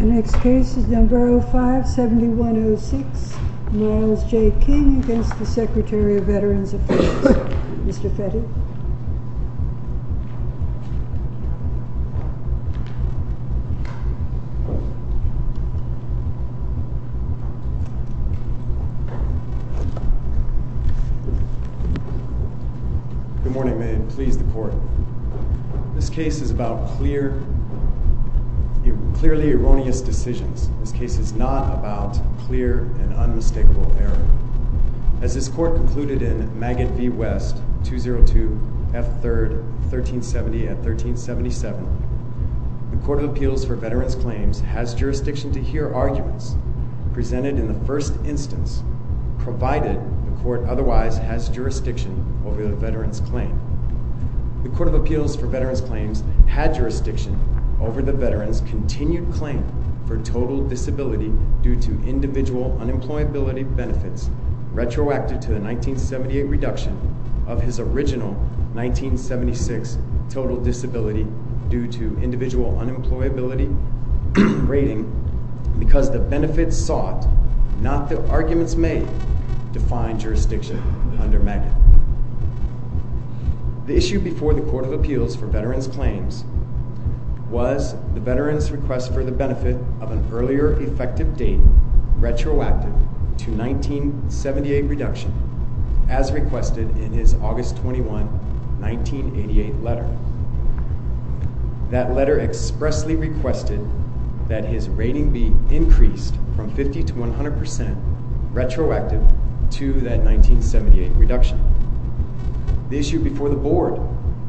The next case is No. 05-7106, Morales J. King v. Secretary of Veterans Affairs, Mr. Fetty. Good morning, ma'am. Please, the Court. This case is about clearly erroneous decisions. This case is not about clear and unmistakable error. As this Court concluded in Maggott v. West, 202 F. 3rd, 1370-1377, the Court of Appeals for Veterans Claims has jurisdiction to hear arguments presented in the first instance, provided the Court otherwise has jurisdiction over the veteran's claim. The Court of Appeals for Veterans Claims had jurisdiction over the veteran's continued claim for total disability due to individual unemployability benefits retroacted to the 1978 reduction of his original 1976 total disability due to individual unemployability rating because the benefit sought, not the arguments made, defined jurisdiction under Maggott. The issue before the Court of Appeals for Veterans Claims was the veteran's request for the benefit of an earlier effective date retroactive to 1978 reduction as requested in his August 21, 1988 letter. That letter expressly requested that his rating be increased from 50 to 100 percent retroactive to that 1978 reduction. The issue before the Board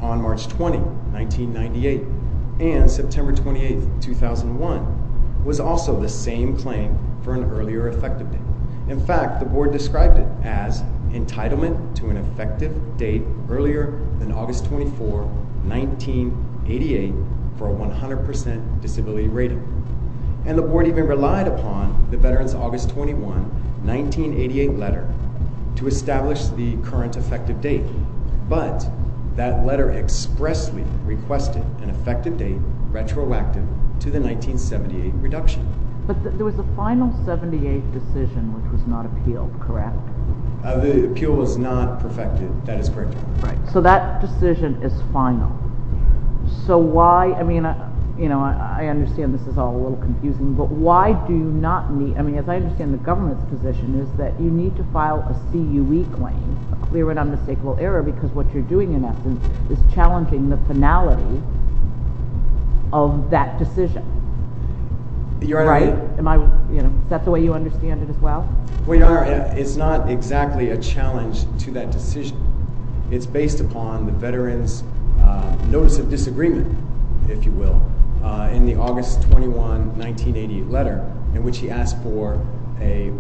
on March 20, 1998 and September 28, 2001 was also the same claim for an earlier effective date. In fact, the Board described it as entitlement to an effective date earlier than August 24, 1988 for a 100 percent disability rating. And the Board even relied upon the veteran's August 21, 1988 letter to establish the current effective date, but that letter expressly requested an effective date retroactive to the 1978 reduction. But there was a final 1978 decision which was not appealed, correct? The appeal was not perfected. That is correct. Right. So that decision is final. So why, I mean, you know, I understand this is all a little confusing, but why do you not need, I mean, as I understand the government's position is that you need to file a CUE claim, a clear and unmistakable error, because what you're doing in essence is challenging the finality of that decision. You're right. Am I, you know, is that the way you understand it as well? Well, Your Honor, it's not exactly a challenge to that decision. It's based upon the veteran's notice of disagreement, if you will, in the August 21, 1988 letter in which he asked for a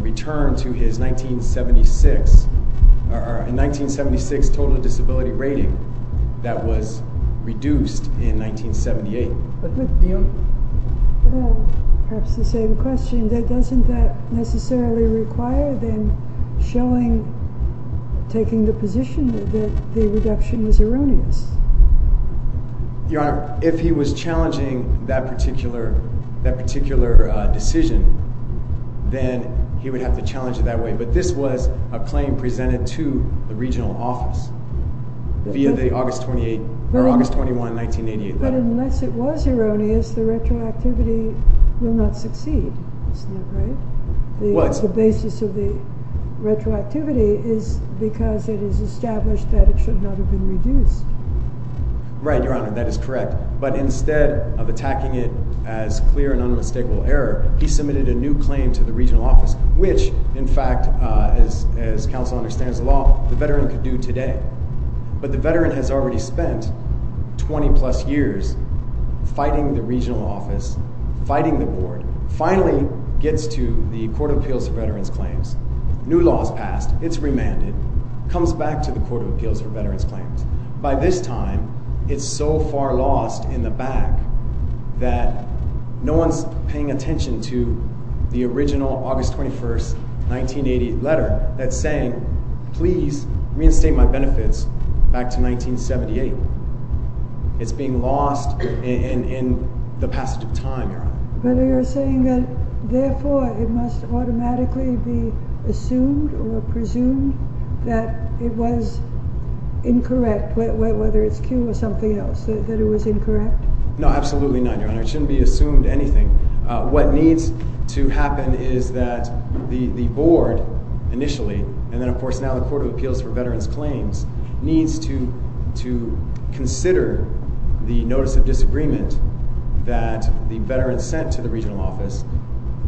return to his 1976 total disability rating that was reduced in 1978. Perhaps the same question. Doesn't that necessarily require them showing, taking the position that the reduction was erroneous? Your Honor, if he was challenging that particular decision, then he would have to challenge it that way, but this was a claim presented to the regional office via the August 28, or August 21, 1988 letter. But unless it was erroneous, the retroactivity will not succeed. Isn't that right? Well, it's... The basis of the retroactivity is because it is established that it should not have been reduced. Right, Your Honor, that is correct. But instead of attacking it as clear and unmistakable error, he submitted a new claim to the regional office, which, in fact, as counsel understands the law, the veteran could do today. But the veteran has already spent 20 plus years fighting the regional office, fighting the board, finally gets to the Court of Appeals for Veterans claims. By this time, it's so far lost in the back that no one's paying attention to the original August 21, 1980 letter that's saying, please reinstate my benefits back to 1978. It's being lost in the passage of time, Your Honor. But you're saying that, therefore, it must automatically be assumed or presumed that it was incorrect, whether it's Q or something else, that it was incorrect? No, absolutely not, Your Honor. It shouldn't be assumed anything. What needs to happen is that the board, initially, and then, of course, now the Court of Appeals for Veterans claims, needs to consider the notice of disagreement that the veteran sent to the regional office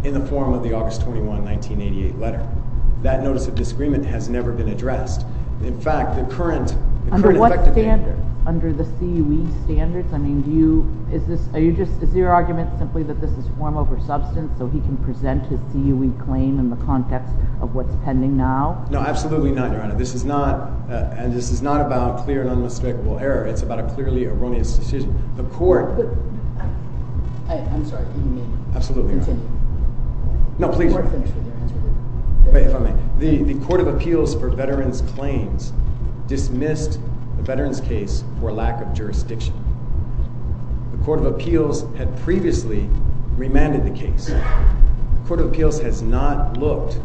in the form of the August 21, 1988 letter. That notice of disagreement has never been addressed. In fact, the current effective date... Under what standard? Under the CUE standards? I mean, do you, is this, are you just, is your argument simply that this is form over substance so he can present his CUE claim in the context of what's pending now? No, absolutely not, Your Honor. This is not, and this is not about clear and unmistakable error. It's about a clearly erroneous decision. The court... No, please. If I may, the Court of Appeals for Veterans claims dismissed the veteran's case for lack of jurisdiction. The Court of Appeals had previously remanded the case. The Court of Appeals has not looked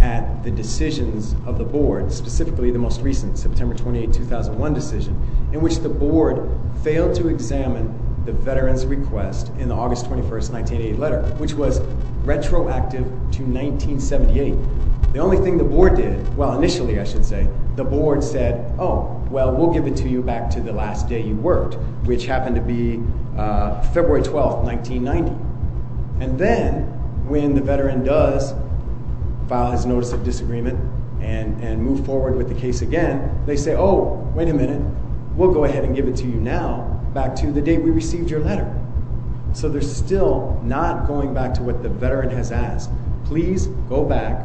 at the decisions of the board, specifically the most recent, September 28, 2001 decision, in which the board failed to examine the veteran's request in the August 21, 1988 letter, which was retroactive to 1978. The only thing the board did, well, initially, I should say, the board said, oh, well, we'll give it to you back to the last day you worked, which happened to be February 12, 1990. And then, when the veteran does file his notice of disagreement and move forward with the case again, they say, oh, wait a minute, we'll go ahead and give it to you now, back to the day we received your letter. So they're still not going back to what the veteran has asked. Please go back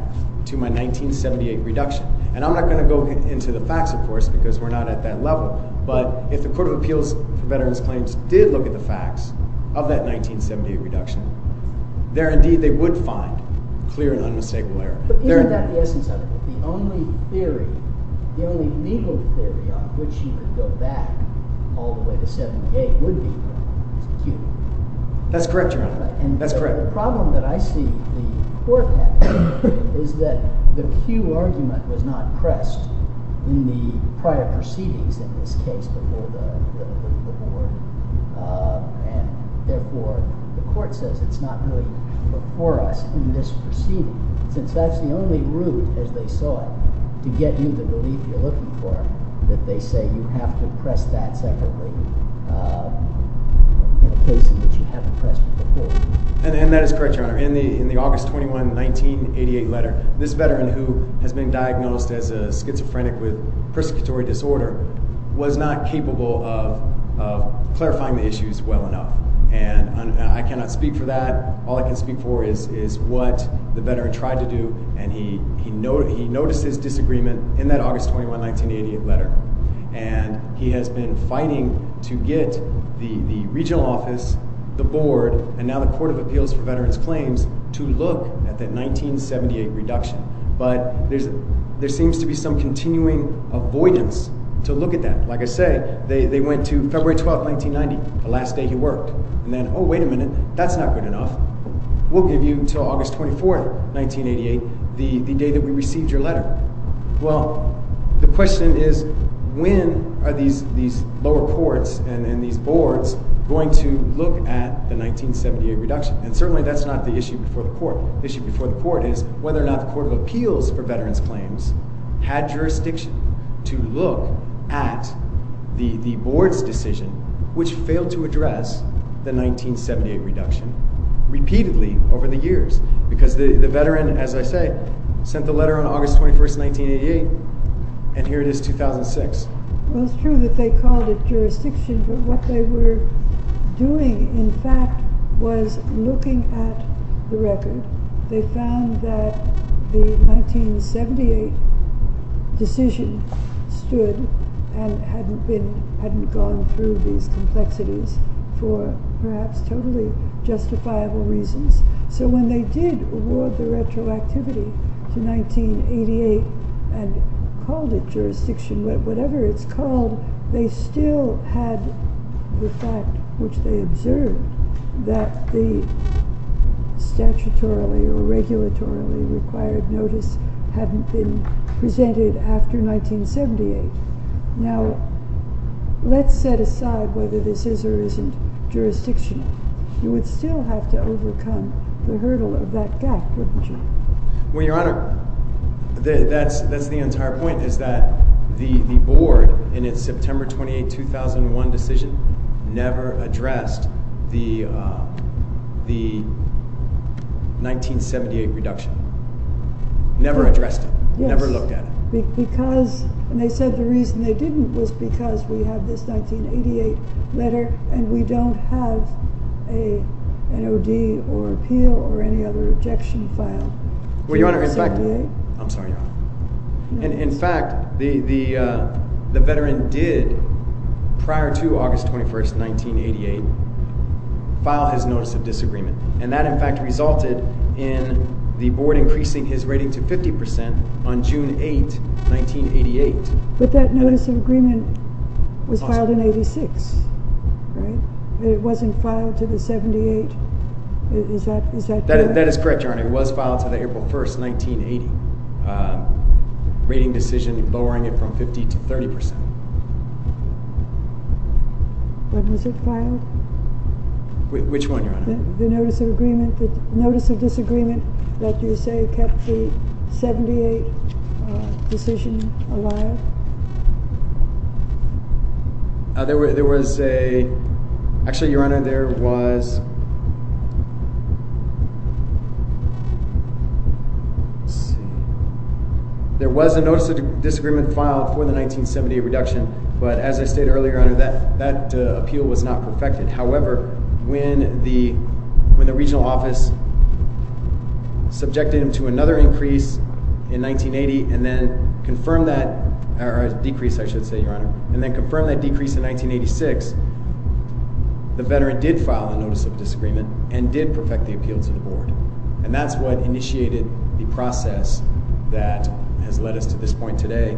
to my 1978 reduction. And I'm not going to go into the facts, of course, because we're not at that level, but if the Court of Appeals for Veterans claims did look at the facts of that 1978 reduction, there indeed they would find clear and unmistakable error. But isn't that the essence of it? The only theory, the only legal theory on which he should go back all the way to 1978 would be Mr. Cue. That's correct, Your Honor. That's correct. And the problem that I see the Court has is that the Cue argument was not pressed in the prior proceedings in this case before the board, and therefore the Court says it's not really before us in this proceeding, since that's the only route, as they saw it, to get you the relief you're looking for, that they say you have to press that separately in a case in which you haven't pressed it before. And that is correct, Your Honor. In the August 21, 1988 letter, this veteran who has been diagnosed as a schizophrenic with persecutory disorder was not capable of clarifying the issues well enough. And I cannot speak for that. All I can speak for is what the veteran tried to do, and he noticed his disagreement in that August 21, 1988 letter. And he has been fighting to get the regional office, the board, and now the Court of Appeals for Veterans Claims to look at that 1978 reduction. But there seems to be some continuing avoidance to look at that. Like I say, they went to February 12, 1990, the last day he worked. And then, oh, wait a minute, that's not good enough. We'll give you until August 24, 1988, the day that we received your letter. Well, the question is, when are these lower courts and these boards going to look at the 1978 reduction? And certainly that's not the issue before the court. The issue before the court is whether or not the Court of Appeals for Veterans Claims had jurisdiction to look at the board's decision, which failed to address the 1978 reduction, repeatedly over the years. Because the veteran, as I say, sent the letter on August 21, 1988, and here it is 2006. Well, it's true that they called it jurisdiction, but what they were doing, in fact, was looking at the record. They found that the 1978 decision stood and hadn't gone through these complexities for perhaps totally justifiable reasons. So when they did award the retroactivity to 1988 and called it jurisdiction, whatever it's called, they still had the fact, which they observed, that the statutorily or regulatorily required notice hadn't been presented after 1978. Now, let's set aside whether this is or isn't jurisdictional. You would still have to overcome the hurdle of that gap, wouldn't you? Well, Your Honor, that's the entire point, is that the board, in its September 28, 2001 decision, never addressed the 1978 reduction. Never addressed it. Never looked at it. Yes. Because, and they said the reason they didn't was because we have this 1988 letter and we don't have an O.D. or appeal or any other objection filed. Well, Your Honor, in fact... I'm sorry, Your Honor. In fact, the veteran did, prior to August 21, 1988, file his notice of disagreement, and that, in fact, resulted in the board increasing his rating to 50% on June 8, 1988. But that notice of agreement was filed in 86, right? It wasn't filed to the 78? Is that correct? That is correct, Your Honor. It was filed to the April 1, 1980, rating decision lowering it from 50 to 30%. When was it filed? Which one, Your Honor? The notice of disagreement that you say kept the 78 decision alive? There was a... Actually, Your Honor, there was... There was a notice of disagreement filed for the 1978 reduction, but as I stated earlier, Your Honor, that appeal was not perfected. However, when the regional office subjected him to another increase in 1980 and then confirmed that, or a decrease, I should say, Your Honor, and then confirmed that decrease in 1986, the veteran did file a notice of disagreement and did perfect the appeal to the board. And that's what initiated the process that has led us to this point today,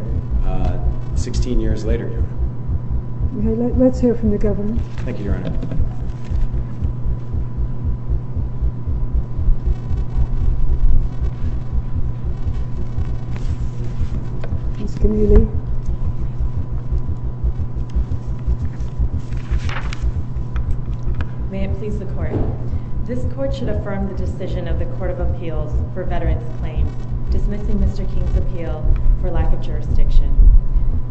16 years later, Your Honor. Okay, let's hear from the governor. Thank you, Your Honor. May it please the court. This court should affirm the decision of the Court of Appeals for Veterans Claims dismissing Mr. King's appeal for lack of jurisdiction.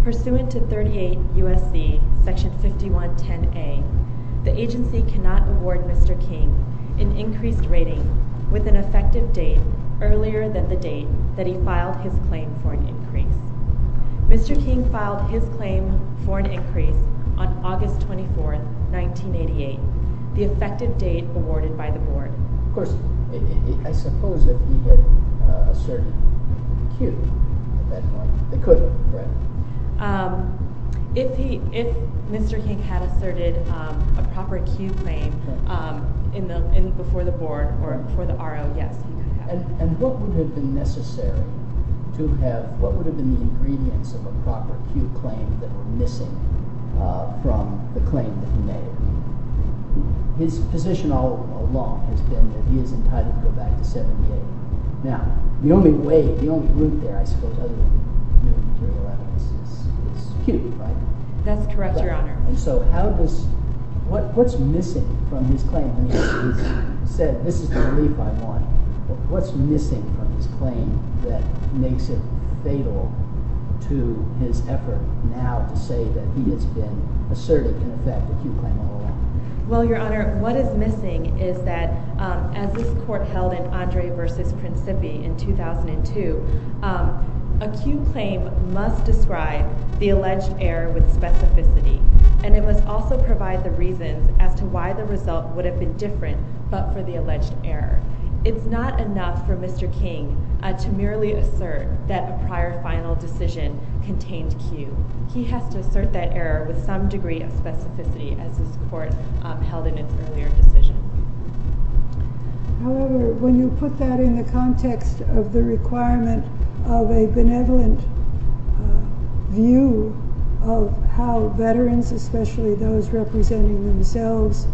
Pursuant to 38 U.S.C. Section 5110A, the agency cannot award Mr. King an increased rating with an effective date earlier than the date that he filed his claim for an increase. Mr. King filed his claim for an increase on August 24, 1988, the effective date awarded by the board. Of course, I suppose that he had asserted a cue at that point. He could have, correct? If Mr. King had asserted a proper cue claim before the board or before the R.O., yes, he could have. And what would have been necessary to have, what would have been the ingredients of a proper cue claim that were missing from the claim that he made? His position all along has been that he is entitled to go back to 78. Now, the only way, the only route there, I suppose, other than material evidence, is cue, right? That's correct, Your Honor. And so how does, what's missing from his claim? I mean, he's said, this is the relief I want. What's missing from his claim that makes it fatal to his effort now to say that he has been asserting, in effect, a cue claim all along? Well, Your Honor, what is missing is that, as this court held in Andre v. Principi in 2002, a cue claim must describe the alleged error with specificity. And it must also provide the reasons as to why the result would have been different but for the alleged error. It's not enough for Mr. King to merely assert that a prior final decision contained cue. He has to assert that error with some degree of specificity, as this court held in its earlier decision. However, when you put that in the context of the requirement of a benevolent view of how veterans, especially those representing themselves,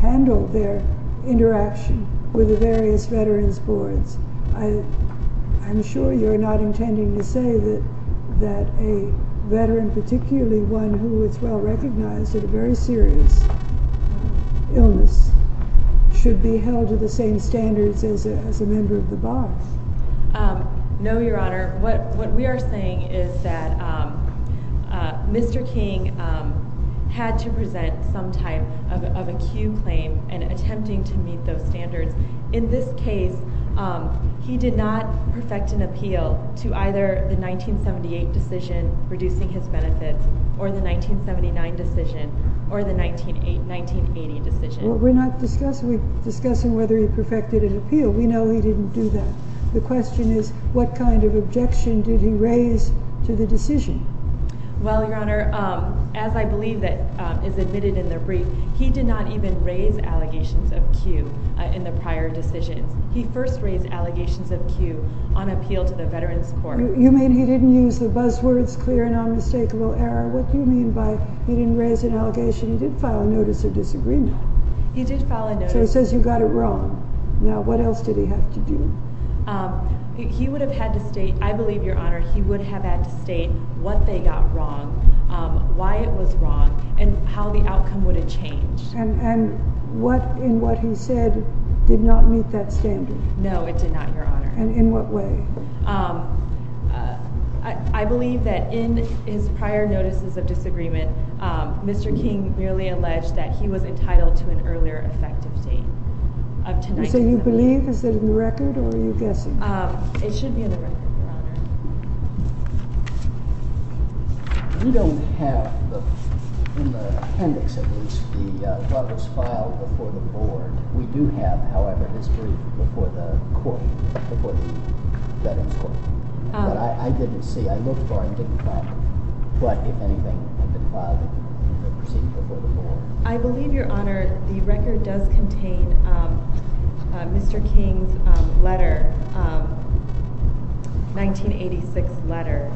handle their interaction with the various veterans' boards, I'm sure you're not intending to say that a veteran, particularly one who is well-recognized at a very serious illness, should be held to the same standards as a member of the board. No, Your Honor. What we are saying is that Mr. King had to present some type of a cue claim and attempting to meet those standards. In this case, he did not perfect an appeal to either the 1978 decision, reducing his benefits, or the 1979 decision, or the 1980 decision. Well, we're not discussing whether he perfected an appeal. We know he didn't do that. The question is, what kind of objection did he raise to the decision? Well, Your Honor, as I believe is admitted in the brief, he did not even raise allegations of cue in the prior decisions. He first raised allegations of cue on appeal to the Veterans Court. You mean he didn't use the buzzwords clear, no mistake, little error? What do you mean by he didn't raise an allegation? He did file a notice of disagreement. He did file a notice. So he says you got it wrong. Now, what else did he have to do? He would have had to state, I believe, Your Honor, he would have had to state what they got wrong, why it was wrong, and how the outcome would have changed. And what in what he said did not meet that standard? No, it did not, Your Honor. And in what way? I believe that in his prior notices of disagreement, Mr. King merely alleged that he was entitled to an earlier effective date. So you believe, is it in the record, or are you guessing? It should be in the record, Your Honor. We don't have, in the appendix at least, what was filed before the board. We do have, however, his brief before the court, before the Veterans Court. But I didn't see, I looked for it and didn't find it. But, if anything, it had been filed in the procedure before the board. I believe, Your Honor, the record does contain Mr. King's letter, 1986 letter.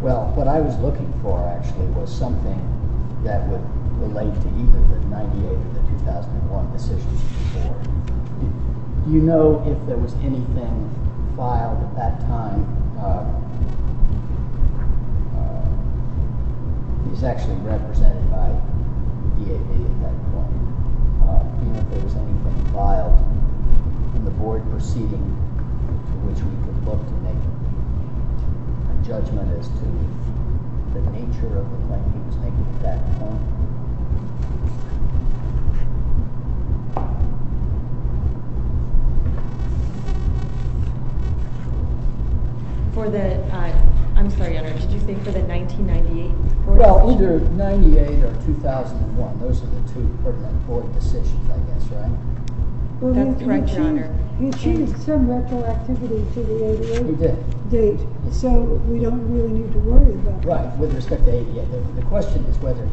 Well, what I was looking for, actually, was something that would relate to either the 98 or the 2001 decisions before. Do you know if there was anything filed at that time? He's actually represented by the EAP at that point. Do you know if there was anything filed in the board proceeding to which we could look to make a judgment as to the nature of the claim he was making at that point? For the, I'm sorry, Your Honor, did you say for the 1998 board decision? Well, either 98 or 2001. Those are the two important board decisions, I guess, right? That's correct, Your Honor. He achieved some retroactivity to the 88 date. He did. So we don't really need to worry about that. Right. With respect to 88, the question is whether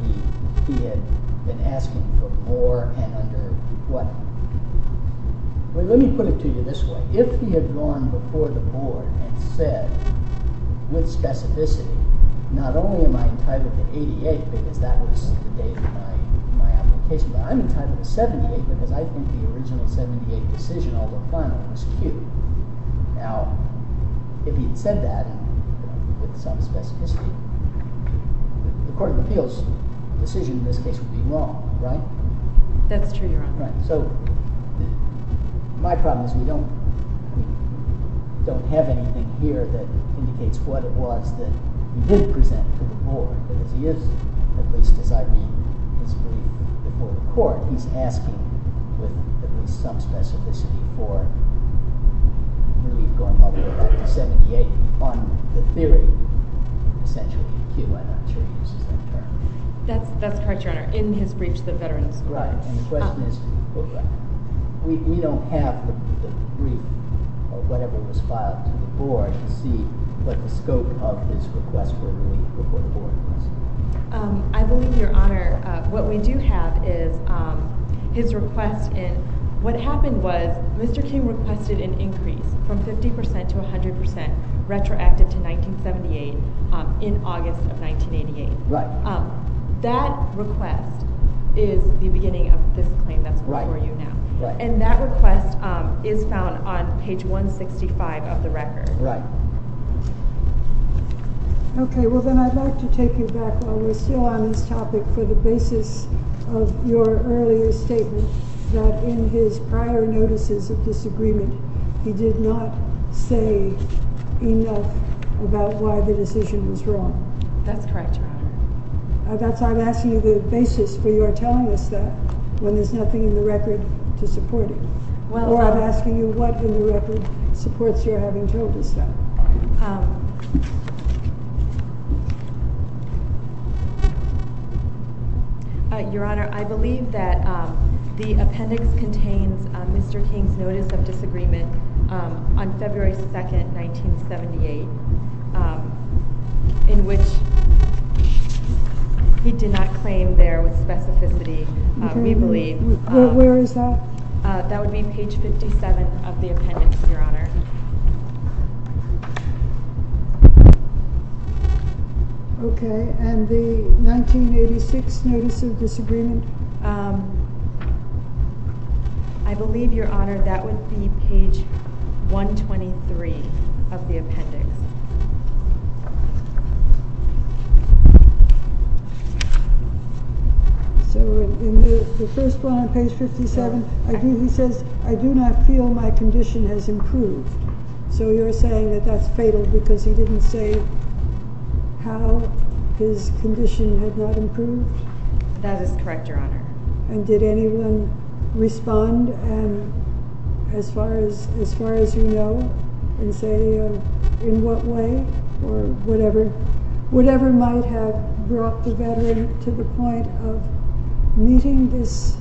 he had been asking for more and under what? Let me put it to you this way. If he had gone before the board and said with specificity, not only am I entitled to 88 because that was the date of my application, but I'm entitled to 78 because I think the original 78 decision, although final, was cute. Now, if he had said that with some specificity, the court of appeals decision in this case would be wrong, right? That's true, Your Honor. So my problem is we don't have anything here that indicates what it was that he did present to the board. Because he is, at least as I read his brief before the court, he's asking with at least some specificity for really going up to 78 on the theory, essentially. I'm not sure he uses that term. That's correct, Your Honor. In his brief to the veterans. Right. And the question is, we don't have the brief or whatever was filed to the board to see what the scope of his request was before the board. I believe, Your Honor, what we do have is his request and what happened was Mr. King requested an increase from 50% to 100% retroactive to 1978 in August of 1988. Right. That request is the beginning of this claim that's before you now. Right. And that request is found on page 165 of the record. Right. Okay, well then I'd like to take you back while we're still on this topic for the basis of your earlier statement that in his prior notices of disagreement, he did not say enough about why the decision was wrong. That's correct, Your Honor. I'm asking you the basis for your telling us that when there's nothing in the record to support it. Or I'm asking you what in the record supports your having told us that. Your Honor, I believe that the appendix contains Mr. King's notice of disagreement on February 2, 1978, in which he did not claim there was specificity, we believe. Where is that? That would be page 57 of the appendix, Your Honor. Okay, and the 1986 notice of disagreement? I believe, Your Honor, that would be page 123 of the appendix. So in the first one on page 57, he says, I do not feel my condition has improved. So you're saying that that's fatal because he didn't say how his condition had not improved? That is correct, Your Honor. And did anyone respond as far as you know and say in what way or whatever might have brought the veteran to the point of meeting this,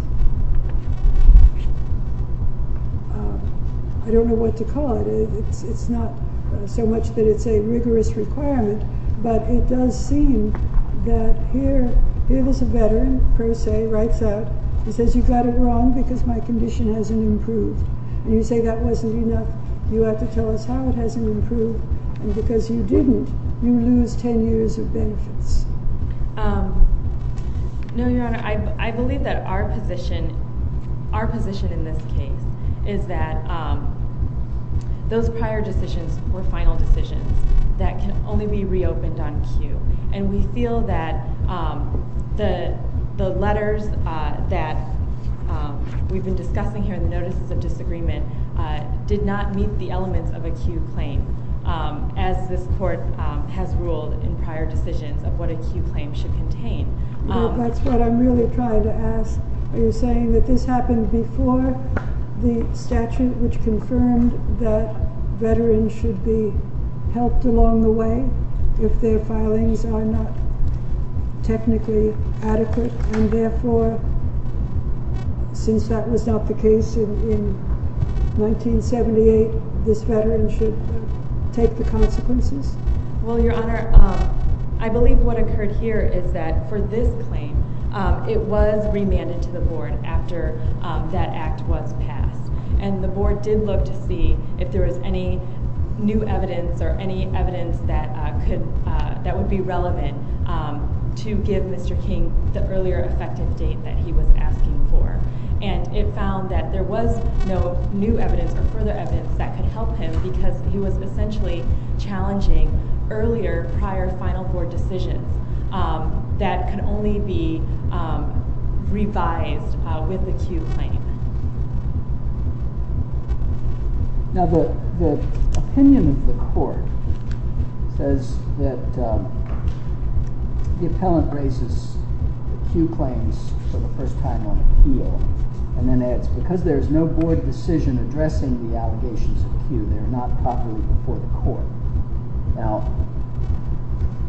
I don't know what to call it. It's not so much that it's a rigorous requirement, but it does seem that here is a veteran, per se, writes out, he says, you got it wrong because my condition hasn't improved. And you say that wasn't enough. You have to tell us how it hasn't improved. And because you didn't, you lose 10 years of benefits. No, Your Honor, I believe that our position in this case is that those prior decisions were final decisions that can only be reopened on cue. And we feel that the letters that we've been discussing here, the notices of disagreement, did not meet the elements of a cue claim as this court has ruled in prior decisions of what a cue claim should contain. That's what I'm really trying to ask. Are you saying that this happened before the statute which confirmed that veterans should be helped along the way if their filings are not technically adequate? And therefore, since that was not the case in 1978, this veteran should take the consequences? Well, Your Honor, I believe what occurred here is that for this claim, it was remanded to the board after that act was passed. And the board did look to see if there was any new evidence or any evidence that would be relevant to give Mr. King the earlier effective date that he was asking for. And it found that there was no new evidence or further evidence that could help him because he was essentially challenging earlier prior final board decisions that could only be revised with a cue claim. Now, the opinion of the court says that the appellant raises cue claims for the first time on appeal and then adds, because there's no board decision addressing the allegations of cue, they're not properly before the court. Now,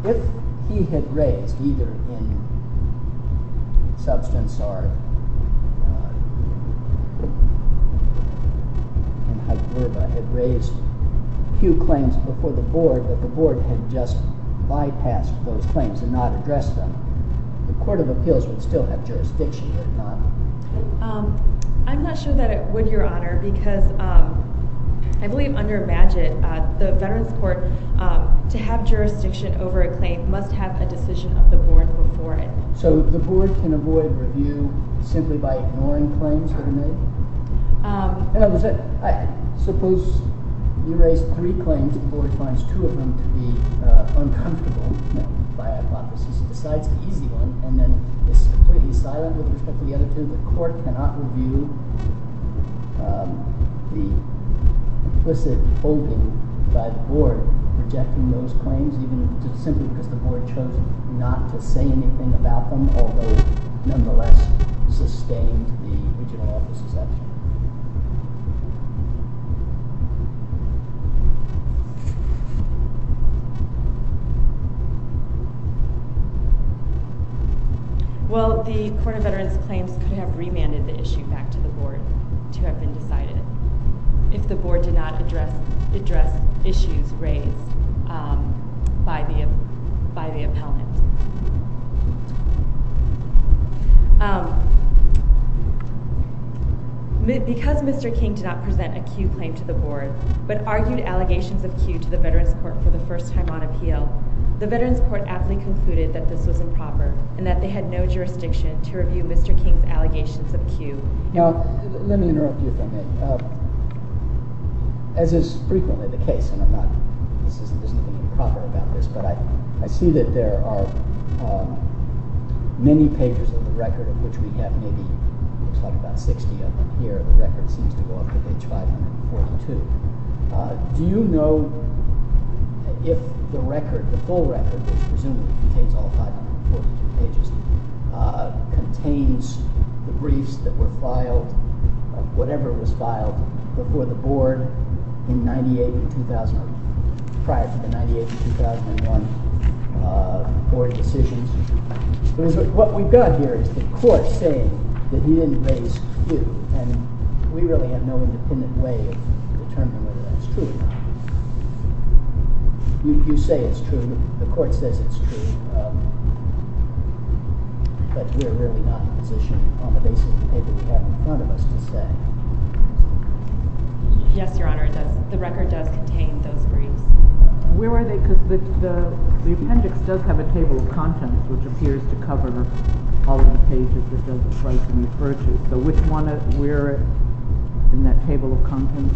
if he had raised, either in substance or in hyperbole, had raised cue claims before the board, but the board had just bypassed those claims and not addressed them, the Court of Appeals would still have jurisdiction, would it not? I'm not sure that it would, Your Honor, because I believe under Bagehot, the Veterans Court, to have jurisdiction over a claim must have a decision of the board before it. So the board can avoid review simply by ignoring claims that are made? Suppose you raise three claims and the board finds two of them to be uncomfortable, by hypothesis, and decides the easy one and then is completely silent with respect to the other two, the court cannot review the implicit holding by the board rejecting those claims simply because the board chose not to say anything about them, although nonetheless sustained the original office's action? Well, the Court of Veterans Claims could have remanded the issue back to the board to have been decided if the board did not address issues raised by the appellant. Because Mr. King did not present a cue claim to the board, but argued allegations of cue to the Veterans Court for the first time on appeal, the Veterans Court aptly concluded that this was improper and that they had no jurisdiction to review Mr. King's allegations of cue. Now, let me interrupt you for a minute. As is frequently the case, and there's nothing improper about this, but I see that there are many pages of the record, of which we have maybe, we'll talk about 60 of them here, the record seems to go up to page 542. Do you know if the record, the full record, which presumably contains all 542 pages, contains the briefs that were filed, whatever was filed, before the board prior to the 1998-2001 board decisions? What we've got here is the court saying that he didn't raise cue, and we really have no independent way of determining whether that's true or not. You say it's true, the court says it's true, but we're really not in a position on the basis of the paper we have in front of us to say. Yes, Your Honor, the record does contain those briefs. Where are they? Because the appendix does have a table of contents, which appears to cover all of the pages it does refer to. So which one is where in that table of contents?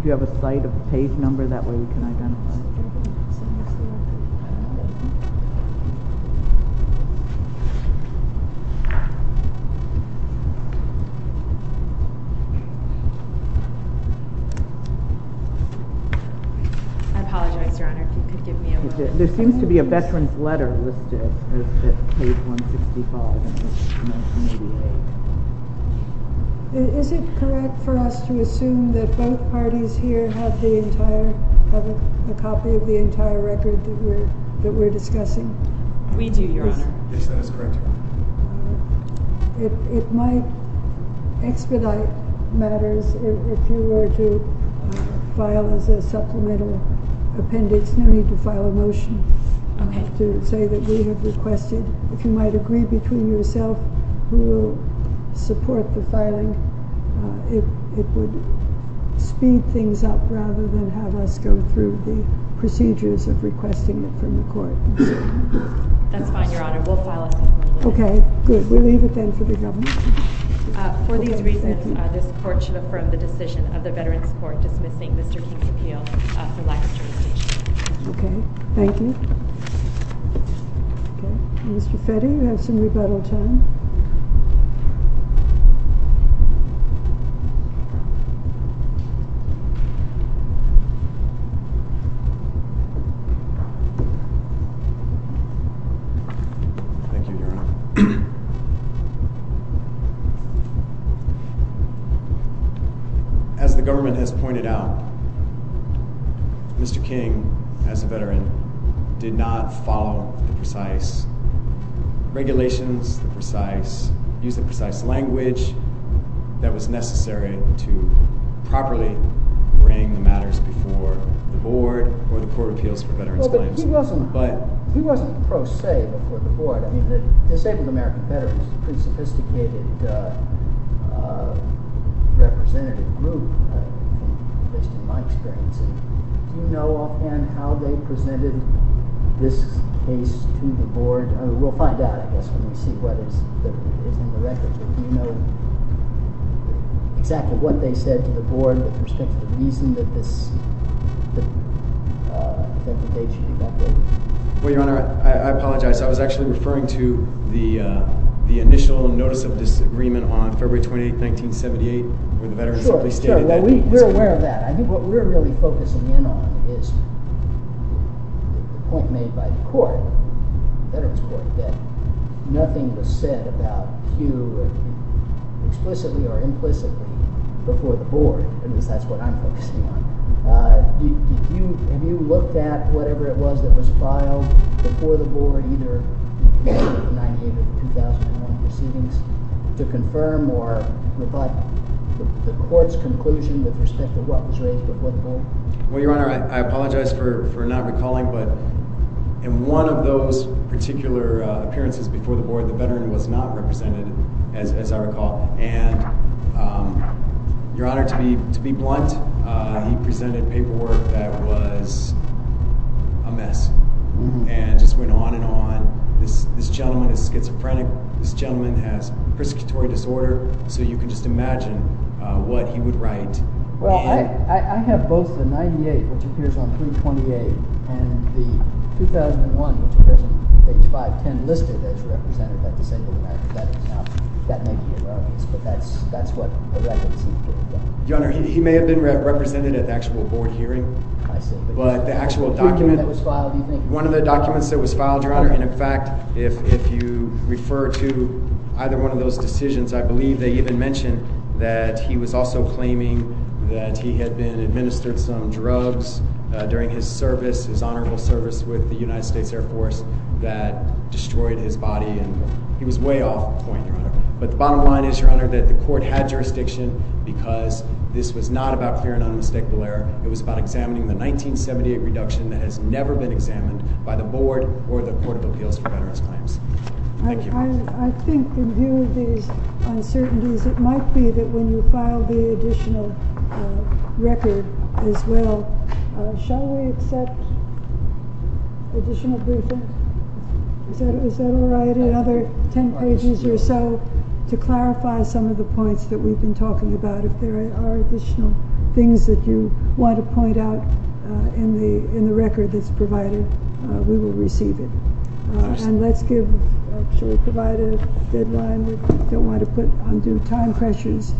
Do you have a site of the page number? That way we can identify it. I apologize, Your Honor, if you could give me a moment. There seems to be a veteran's letter listed at page 165. Is it correct for us to assume that both parties here have a copy of the entire record that we're discussing? We do, Your Honor. Yes, that is correct, Your Honor. It might expedite matters if you were to file as a supplemental appendix. No need to file a motion to say that we have requested. If you might agree between yourself who will support the filing, it would speed things up rather than have us go through the procedures of requesting it from the court. That's fine, Your Honor. We'll file a supplemental appendix. Okay, good. We'll leave it then for the government. For these reasons, this court should affirm the decision of the Veterans Court dismissing Mr. King's appeal for lack of jurisdiction. Okay, thank you. Mr. Fetty, you have some rebuttal time. Thank you, Your Honor. As the government has pointed out, Mr. King, as a veteran, did not follow the precise regulations, use the precise language that was necessary to properly bring the matters before the board or the court of appeals for veterans' claims. He wasn't pro se before the board. The Disabled American Veterans is a pretty sophisticated representative group, at least in my experience. Do you know offhand how they presented this case to the board? We'll find out, I guess, when we see what is in the records. But do you know exactly what they said to the board with respect to the reason that the date should be updated? Well, Your Honor, I apologize. I was actually referring to the initial notice of disagreement on February 28, 1978, when the veterans simply stated that. We're aware of that. I think what we're really focusing in on is the point made by the court, the Veterans Court, that nothing was said about Hugh explicitly or implicitly before the board. At least, that's what I'm focusing on. Have you looked at whatever it was that was filed before the board, either 1998 or 2001 proceedings, to confirm or reflect the court's conclusion with respect to what was raised before the board? Well, Your Honor, I apologize for not recalling, but in one of those particular appearances before the board, the veteran was not represented, as I recall. And, Your Honor, to be blunt, he presented paperwork that was a mess and just went on and on. This gentleman is schizophrenic. This gentleman has prescriptory disorder. So you can just imagine what he would write. Well, I have both the 1998, which appears on page 328, and the 2001, which appears on page 510, listed as represented by disabled Americans. Now, that may be irrelevant, but that's what the record seems to have done. Your Honor, he may have been represented at the actual board hearing. I see. that he had been administered some drugs during his service, his honorable service with the United States Air Force, that destroyed his body. He was way off point, Your Honor. But the bottom line is, Your Honor, that the court had jurisdiction because this was not about clear and unmistakable error. It was about examining the 1978 reduction that has never been examined by the board or the Court of Appeals for veterans' claims. Thank you. I think in view of these uncertainties, it might be that when you file the additional record as well, shall we accept additional briefing? Is that all right? Another ten pages or so to clarify some of the points that we've been talking about. If there are additional things that you want to point out in the record that's provided, we will receive it. And let's give, shall we provide a deadline? We don't want to put undue time pressures.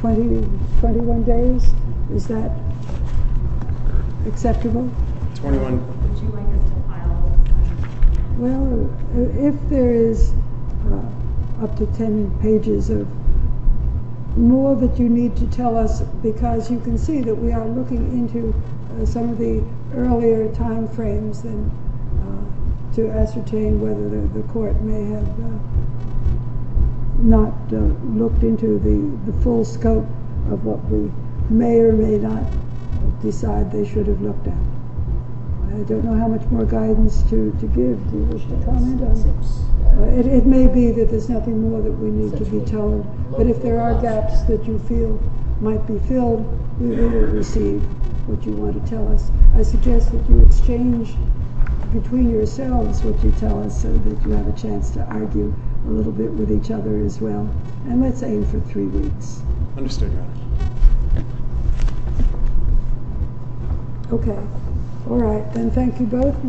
Twenty, twenty-one days? Is that acceptable? Twenty-one. Would you like it to file? Well, if there is up to ten pages or more that you need to tell us, because you can see that we are looking into some of the earlier time frames to ascertain whether the court may have not looked into the full scope of what we may or may not decide they should have looked at. I don't know how much more guidance to give. Do you wish to comment on this? It may be that there's nothing more that we need to be told, but if there are gaps that you feel might be filled, we will receive what you want to tell us. I suggest that you exchange between yourselves what you tell us so that you have a chance to argue a little bit with each other as well. And let's aim for three weeks. Understood, Your Honor. Okay. All right, then. Thank you both.